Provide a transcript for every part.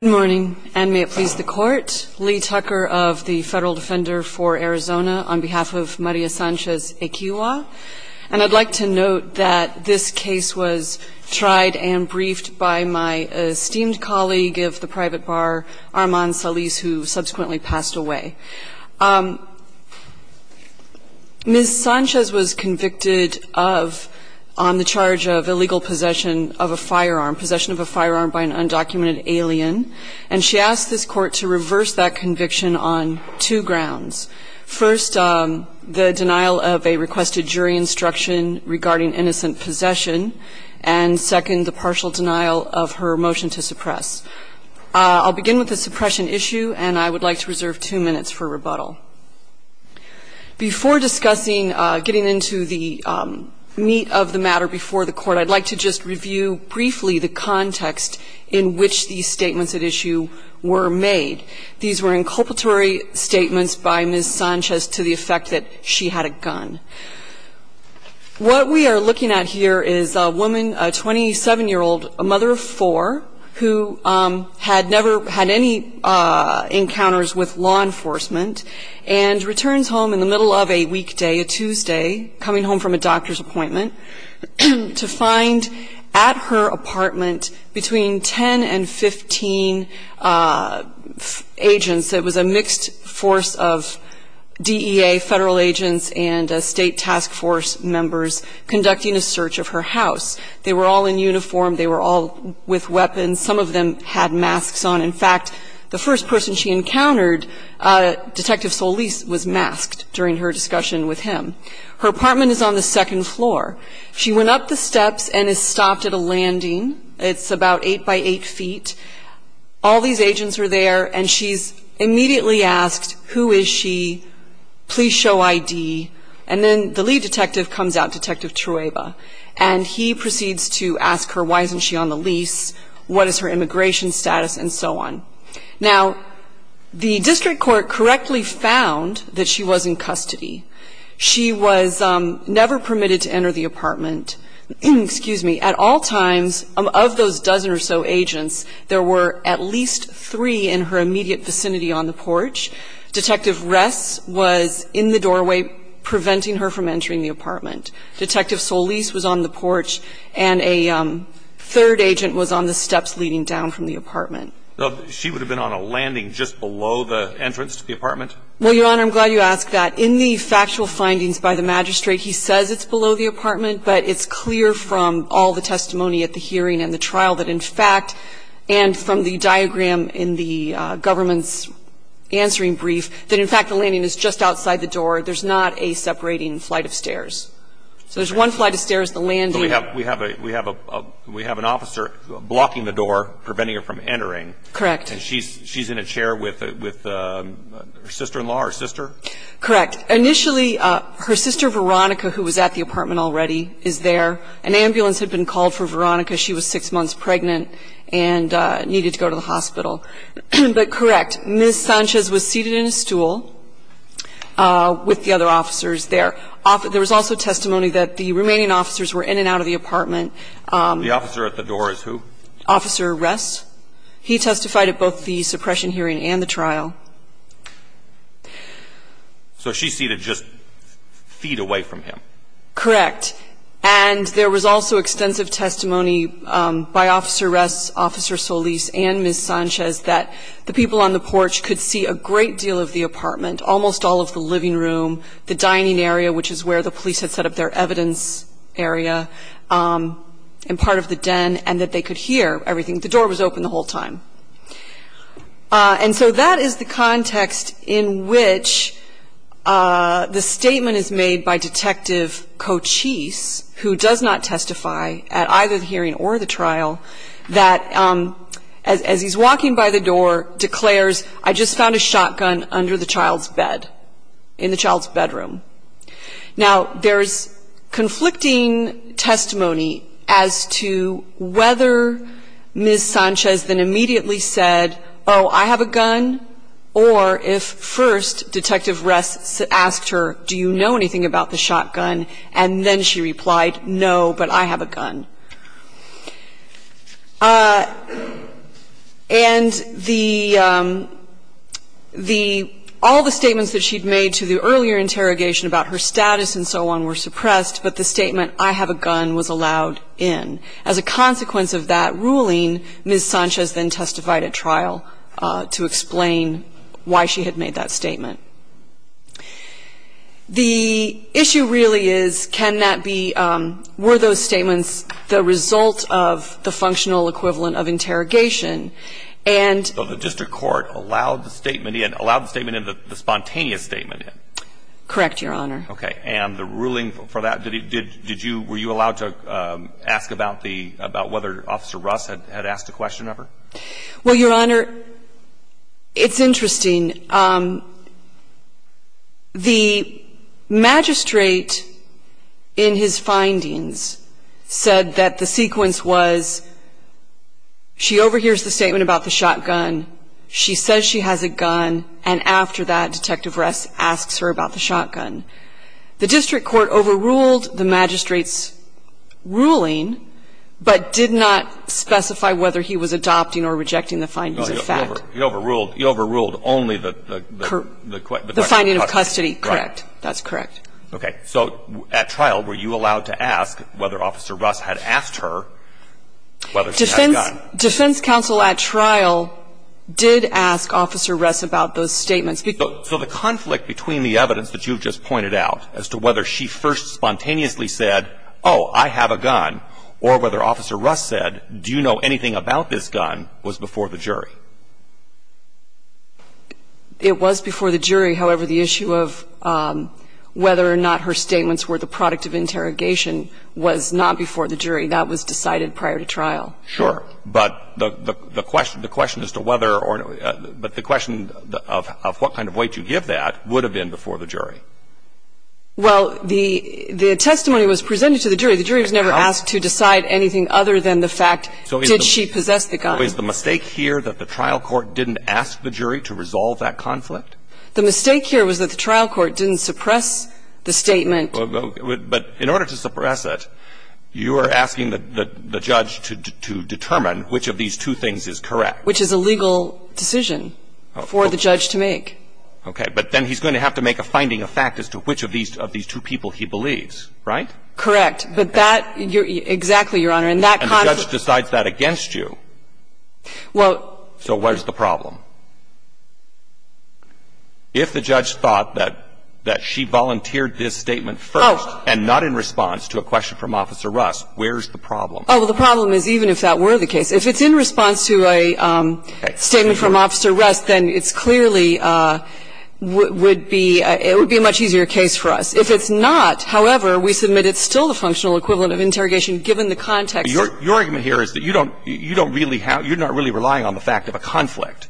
Good morning, and may it please the Court. Lee Tucker of the Federal Defender for Arizona on behalf of Maria Sanchez-Equihua. And I'd like to note that this case was tried and briefed by my esteemed colleague of the private bar, Arman Salis, who subsequently passed away. Ms. Sanchez was convicted of, on the charge of illegal possession of a firearm, possession of a firearm by an undocumented alien. And she asked this Court to reverse that conviction on two grounds. First, the denial of a requested jury instruction regarding innocent possession. And second, the partial denial of her motion to suppress. I'll begin with the suppression issue, and I would like to reserve two minutes for rebuttal. Before discussing, getting into the meat of the matter before the Court, I'd like to just review briefly the context in which these statements at issue were made. These were inculpatory statements by Ms. Sanchez to the effect that she had a gun. What we are looking at here is a woman, a 27-year-old, a mother of four, who had never had any encounters with law enforcement, and returns home in the middle of a weekday, a Tuesday, coming home from a doctor's appointment, to find at her apartment between 10 and 15 agents. It was a mixed force of DEA federal agents and State Task Force members conducting a search of her house. They were all in uniform. They were all with weapons. Some of them had masks on. In fact, the first person she encountered, Detective Solis, was masked during her discussion with him. Her apartment is on the second floor. She went up the steps and is stopped at a landing. It's about eight by eight feet. All these agents are there, and she's immediately asked, who is she? Please show ID. And then the lead detective comes out, Detective Chueva, and he proceeds to ask her why isn't she on the lease, what is her immigration status, and so on. Now, the district court correctly found that she was in custody. She was never permitted to enter the apartment. Excuse me. At all times, of those dozen or so agents, there were at least three in her immediate vicinity on the porch. Detective Ress was in the doorway, preventing her from entering the apartment. Detective Solis was on the porch, and a third agent was on the steps leading down from the apartment. She would have been on a landing just below the entrance to the apartment? Well, Your Honor, I'm glad you asked that. In the factual findings by the magistrate, he says it's below the apartment, but it's clear from all the testimony at the hearing and the trial that, in fact, and from the diagram in the government's answering brief, that, in fact, the landing is just outside the door. There's not a separating flight of stairs. So there's one flight of stairs, the landing. But we have an officer blocking the door, preventing her from entering. And she's in a chair with her sister-in-law, her sister? Correct. Initially, her sister Veronica, who was at the apartment already, is there. An ambulance had been called for Veronica. She was six months pregnant and needed to go to the hospital. But, correct, Ms. Sanchez was seated in a stool with the other officers there. There was also testimony that the remaining officers were in and out of the apartment. The officer at the door is who? Officer Ress. He testified at both the suppression hearing and the trial. So she's seated just feet away from him? Correct. And there was also extensive testimony by Officer Ress, Officer Solis, and Ms. Sanchez that the people on the porch could see a great deal of the apartment, almost all of the living room, the dining area, which is where the police had set up their evidence area, and part of the den, and that they could hear everything. The door was open the whole time. And so that is the context in which the statement is made by Detective Cochise, who does not testify at either the hearing or the trial, that as he's walking by the door declares, I just found a shotgun under the child's bed, in the child's bedroom. Now, there's conflicting testimony as to whether Ms. Sanchez then immediately said, oh, I have a gun, or if first Detective Ress asked her, do you know anything about the shotgun, and then she replied, no, but I have a gun. And all the statements that she'd made to the earlier interrogation about her status and so on were suppressed, but the statement, I have a gun, was allowed in. As a consequence of that ruling, Ms. Sanchez then testified at trial to explain why she had made that statement. The issue really is, can that be, were those statements the result of the functional equivalent of interrogation? And the district court allowed the statement in, allowed the statement in, the spontaneous statement in? Correct, Your Honor. Okay. And the ruling for that, did you, were you allowed to ask about the, about whether Officer Russ had asked a question of her? Well, Your Honor, it's interesting. The magistrate in his findings said that the sequence was she overhears the statement about the shotgun, she says she has a gun, and after that, Detective Ress asks her about the shotgun. The district court overruled the magistrate's ruling, but did not specify whether he was adopting or rejecting the findings of fact. He overruled, he overruled only the question of custody. The finding of custody, correct. That's correct. Okay. So at trial, were you allowed to ask whether Officer Russ had asked her whether she had a gun? Defense counsel at trial did ask Officer Ress about those statements. So the conflict between the evidence that you've just pointed out as to whether she first spontaneously said, oh, I have a gun, or whether Officer Russ said, do you know anything about this gun, was before the jury. It was before the jury. However, the issue of whether or not her statements were the product of interrogation was not before the jury. That was decided prior to trial. Sure. But the question, the question as to whether or not, but the question of what kind of weight you give that would have been before the jury. Well, the testimony was presented to the jury. The jury was never asked to decide anything other than the fact did she possess the gun. So is the mistake here that the trial court didn't ask the jury to resolve that conflict? The mistake here was that the trial court didn't suppress the statement. But in order to suppress it, you are asking the judge to determine which of these two things is correct. Which is a legal decision for the judge to make. Okay. But then he's going to have to make a finding of fact as to which of these two people he believes, right? But that, exactly, Your Honor. And that conflict. And the judge decides that against you. Well. So what is the problem? If the judge thought that she volunteered this statement first and not in response to a question from Officer Russ, where is the problem? Oh, well, the problem is even if that were the case. If it's in response to a statement from Officer Russ, then it's clearly would be, it would be a much easier case for us. If it's not, however, we submit it's still the functional equivalent of interrogation given the context. Your argument here is that you don't, you don't really have, you're not really relying on the fact of a conflict.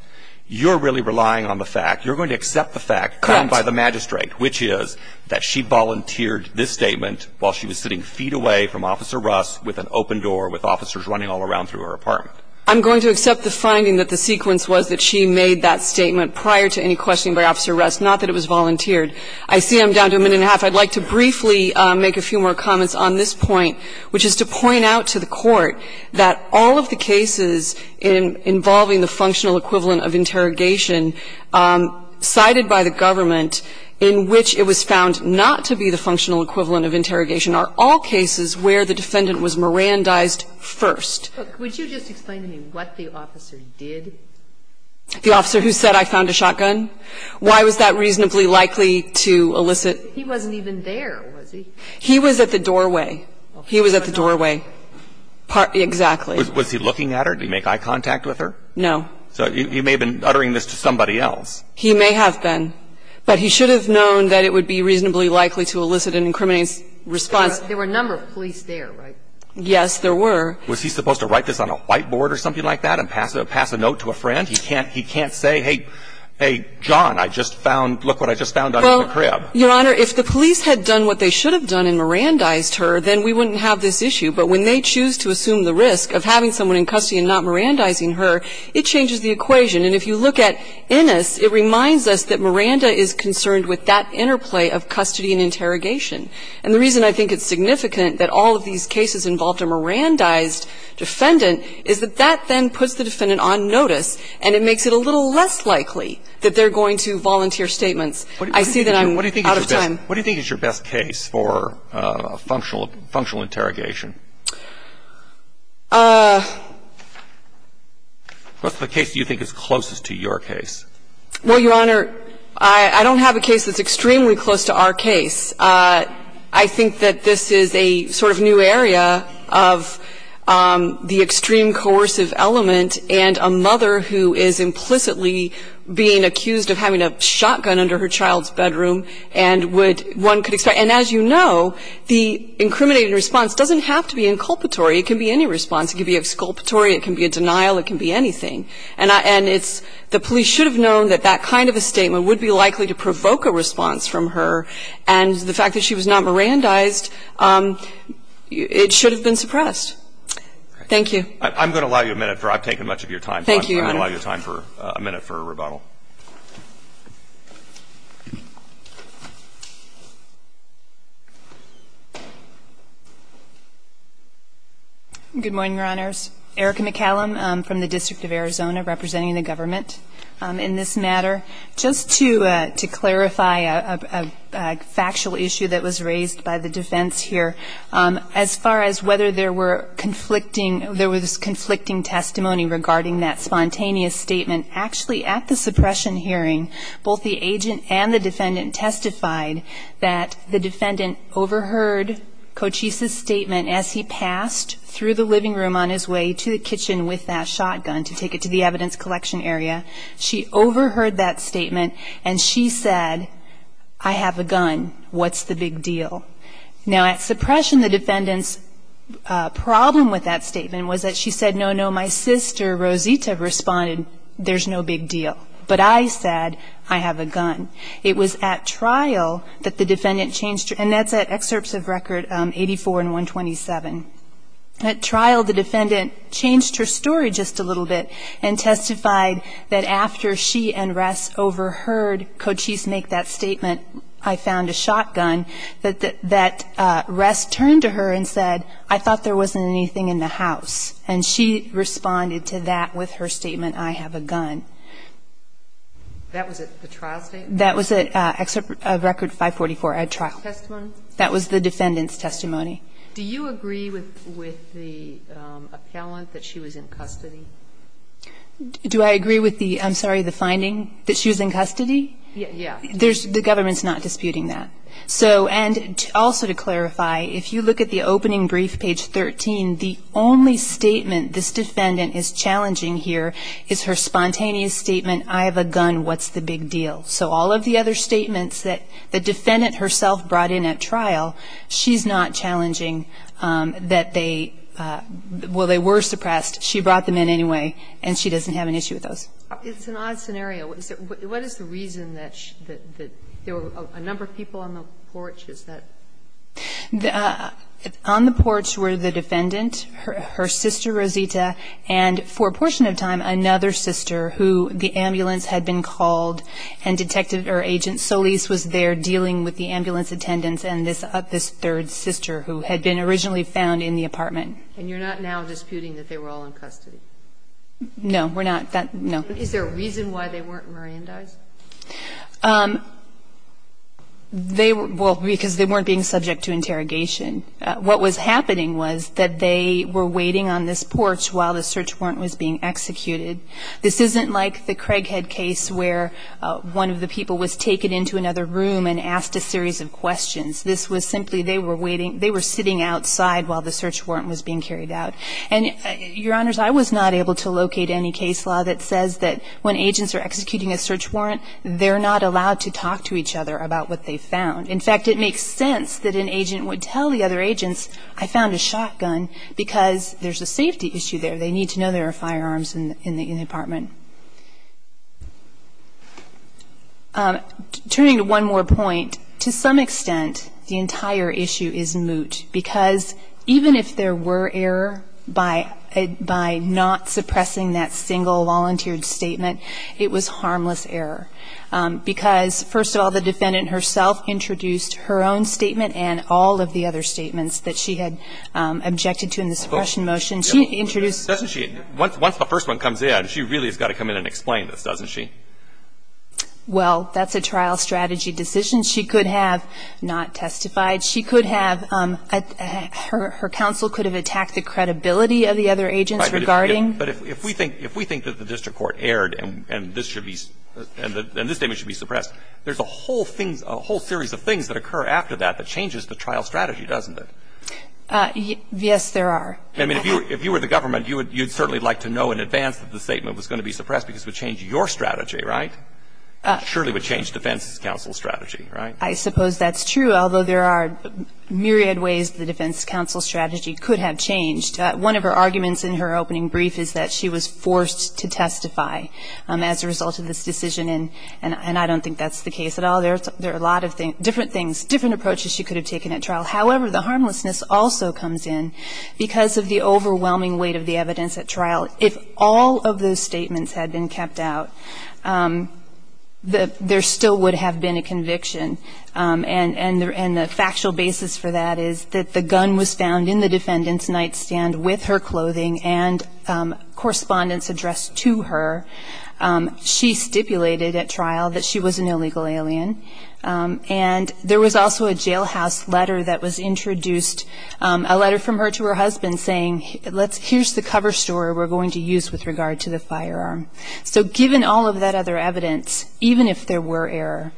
You're really relying on the fact, you're going to accept the fact. Correct. Come by the magistrate, which is that she volunteered this statement while she was sitting feet away from Officer Russ with an open door with officers running all around through her apartment. I'm going to accept the finding that the sequence was that she made that statement prior to any questioning by Officer Russ, not that it was volunteered. I see I'm down to a minute and a half. I'd like to briefly make a few more comments on this point, which is to point out to the Court that all of the cases involving the functional equivalent of interrogation cited by the government in which it was found not to be the functional equivalent of interrogation are all cases where the defendant was Mirandized first. But would you just explain to me what the officer did? The officer who said I found a shotgun? Why was that reasonably likely to elicit? He wasn't even there, was he? He was at the doorway. He was at the doorway. Exactly. Was he looking at her? Did he make eye contact with her? No. So he may have been uttering this to somebody else. He may have been. But he should have known that it would be reasonably likely to elicit an incriminating response. There were a number of police there, right? Yes, there were. Was he supposed to write this on a whiteboard or something like that and pass a note to a friend? He can't say, hey, John, I just found, look what I just found under the crib. Your Honor, if the police had done what they should have done and Mirandized her, then we wouldn't have this issue. But when they choose to assume the risk of having someone in custody and not Mirandizing her, it changes the equation. And if you look at Innis, it reminds us that Miranda is concerned with that interplay of custody and interrogation. And the reason I think it's significant that all of these cases involved a Mirandized defendant is that that then puts the defendant on notice, and it makes it a little less likely that they're going to volunteer statements. I see that I'm out of time. What do you think is your best case for functional interrogation? What's the case you think is closest to your case? Well, Your Honor, I don't have a case that's extremely close to our case. I think that this is a sort of new area of the extreme coercive element and a mother who is implicitly being accused of having a shotgun under her child's bedroom and would one could expect. And as you know, the incriminating response doesn't have to be inculpatory. It can be any response. It can be exculpatory. It can be a denial. It can be anything. And it's the police should have known that that kind of a statement would be likely to provoke a response from her. And the fact that she was not Mirandized, it should have been suppressed. Thank you. I'm going to allow you a minute. I've taken much of your time. Thank you, Your Honor. I'm going to allow you a minute for a rebuttal. Good morning, Your Honors. Erica McCallum from the District of Arizona, representing the government in this matter. Just to clarify a factual issue that was raised by the defense here, as far as whether there was conflicting testimony regarding that spontaneous statement, actually at the suppression hearing, both the agent and the defendant testified that the defendant overheard Cochise's statement as he passed through the living room on his way to the kitchen with that shotgun to take it to the evidence collection area. She overheard that statement and she said, I have a gun. What's the big deal? Now, at suppression, the defendant's problem with that statement was that she said, no, no, my sister, Rosita, responded, there's no big deal. But I said, I have a gun. It was at trial that the defendant changed, and that's at excerpts of record 84 and 127. At trial, the defendant changed her story just a little bit and testified that after she and Ress overheard Cochise make that statement, I found a shotgun, that Ress turned to her and said, I thought there wasn't anything in the house. And she responded to that with her statement, I have a gun. That was at the trial statement? That was at record 544 at trial. Testimony? That was the defendant's testimony. Do you agree with the appellant that she was in custody? Do I agree with the finding that she was in custody? Yes. The government's not disputing that. And also to clarify, if you look at the opening brief, page 13, the only statement this defendant is challenging here is her spontaneous statement, I have a gun, what's the big deal? So all of the other statements that the defendant herself brought in at trial, she's not challenging that they were suppressed. She brought them in anyway, and she doesn't have an issue with those. It's an odd scenario. What is the reason that there were a number of people on the porch? Is that? On the porch were the defendant, her sister Rosita, and for a portion of time another sister who the ambulance had been called and detected her agent Solis was there dealing with the ambulance attendants and this third sister who had been originally found in the apartment. And you're not now disputing that they were all in custody? No. We're not. No. Is there a reason why they weren't merandized? They were, well, because they weren't being subject to interrogation. What was happening was that they were waiting on this porch while the search warrant was being executed. This isn't like the Craighead case where one of the people was taken into another room and asked a series of questions. This was simply they were waiting, they were sitting outside while the search warrant was being carried out. And, Your Honors, I was not able to locate any case law that says that when agents are executing a search warrant, they're not allowed to talk to each other about what they found. In fact, it makes sense that an agent would tell the other agents, I found a shotgun because there's a safety issue there. They need to know there are firearms in the apartment. Turning to one more point, to some extent, the entire issue is moot. Because even if there were error by not suppressing that single volunteered statement, it was harmless error. Because, first of all, the defendant herself introduced her own statement and all of the other statements that she had objected to in the suppression motion. She introduced. Doesn't she? Once the first one comes in, she really has got to come in and explain this, doesn't she? Well, that's a trial strategy decision. She could have not testified. She could have, her counsel could have attacked the credibility of the other agents regarding. But if we think that the district court erred and this statement should be suppressed, there's a whole series of things that occur after that that changes the trial strategy, doesn't it? Yes, there are. I mean, if you were the government, you would certainly like to know in advance that the statement was going to be suppressed because it would change your strategy, right? It surely would change defense's counsel strategy, right? I suppose that's true, although there are myriad ways the defense counsel strategy could have changed. One of her arguments in her opening brief is that she was forced to testify as a result of this decision. And I don't think that's the case at all. There are a lot of different things, different approaches she could have taken at trial. However, the harmlessness also comes in because of the overwhelming weight of the evidence at trial. If all of those statements had been kept out, there still would have been a conviction. And the factual basis for that is that the gun was found in the defendant's nightstand with her clothing and correspondence addressed to her. She stipulated at trial that she was an illegal alien. And there was also a jailhouse letter that was introduced, a letter from her to her husband saying, let's – here's the cover story we're going to use with regard to the firearm. So given all of that other evidence, even if there were error,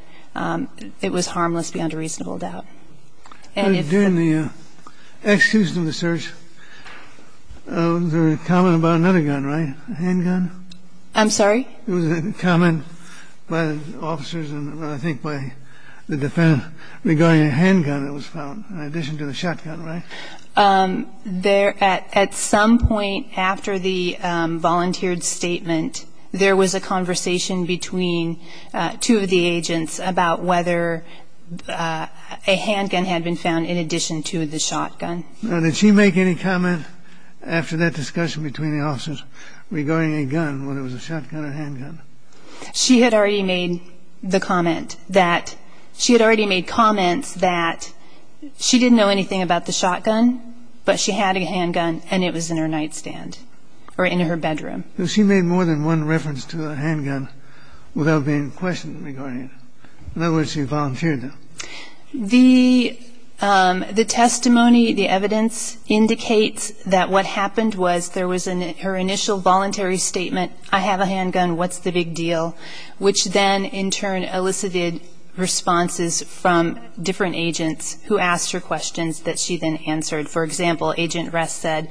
it was harmless beyond a reasonable doubt. And if the ---- But during the execution of the search, there was a comment about another gun, right, a handgun? I'm sorry? It was a comment by the officers and I think by the defendant regarding a handgun that was found in addition to the shotgun, right? At some point after the volunteered statement, there was a conversation between two of the agents about whether a handgun had been found in addition to the shotgun. Now, did she make any comment after that discussion between the officers regarding a gun, whether it was a shotgun or a handgun? She had already made the comment that – she had already made comments that she didn't know anything about the shotgun, but she had a handgun and it was in her nightstand or in her bedroom. But she made more than one reference to a handgun without being questioned regarding it. In other words, she volunteered that. The testimony, the evidence, indicates that what happened was there was her initial voluntary statement, I have a handgun, what's the big deal, which then in turn elicited responses from different agents who asked her questions that she then answered. For example, Agent Ress said,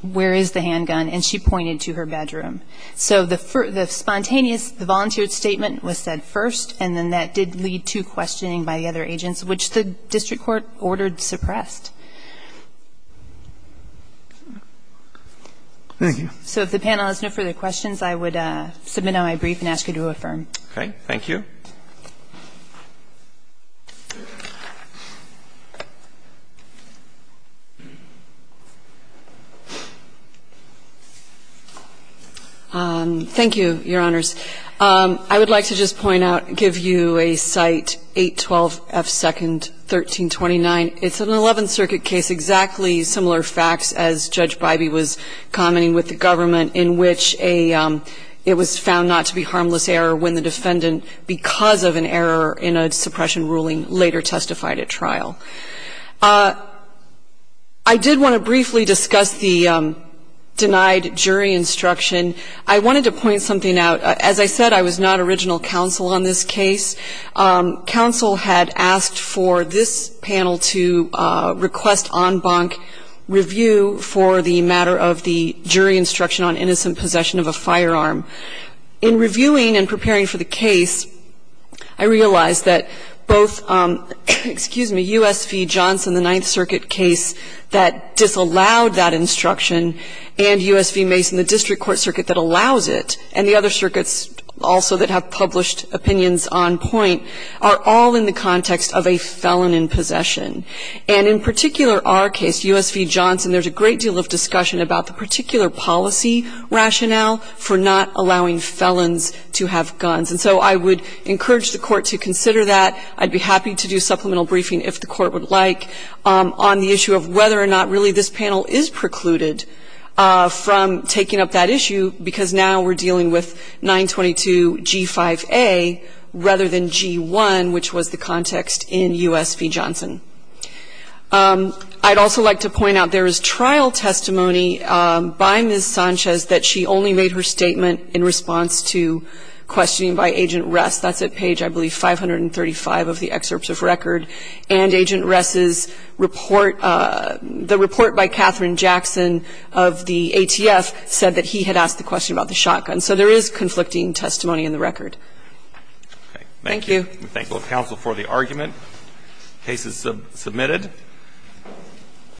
where is the handgun, and she pointed to her bedroom. So the spontaneous, the volunteered statement was said first and then that did lead to questioning by the other agents, which the district court ordered suppressed. Thank you. So if the panel has no further questions, I would submit my brief and ask you to affirm. Okay. Thank you. Thank you, Your Honors. I would like to just point out, give you a site, 812 F. 2nd, 1329. It's an 11th Circuit case, exactly similar facts as Judge Bybee was commenting with the government, in which it was found not to be harmless error when the defendant, because of an error in a suppression ruling, later testified at trial. I did want to briefly discuss the denied jury instruction. I wanted to point something out. As I said, I was not original counsel on this case. Counsel had asked for this panel to request en banc review for the matter of the jury instruction on innocent possession of a firearm. In reviewing and preparing for the case, I realized that both, excuse me, U.S. v. Johnson, the Ninth Circuit case that disallowed that instruction, and U.S. v. Mason, the district court circuit that allows it, and the other circuits also that have published opinions on point, are all in the context of a felon in possession. And in particular, our case, U.S. v. Johnson, there's a great deal of discussion about the particular policy rationale for not allowing felons to have guns. And so I would encourage the Court to consider that. I'd be happy to do supplemental briefing, if the Court would like, on the issue of whether or not really this panel is precluded from taking up that issue, because now we're dealing with 922G5A rather than G1, which was the context in U.S. v. Johnson. I'd also like to point out there is trial testimony by Ms. Sanchez that she only made her statement in response to questioning by Agent Ress. That's at page, I believe, 535 of the excerpts of record. And Agent Ress's report, the report by Katherine Jackson of the ATF said that he had asked the question about the shotgun. So there is conflicting testimony in the record. Thank you. Thank you. We thank both counsel for the argument. Case is submitted.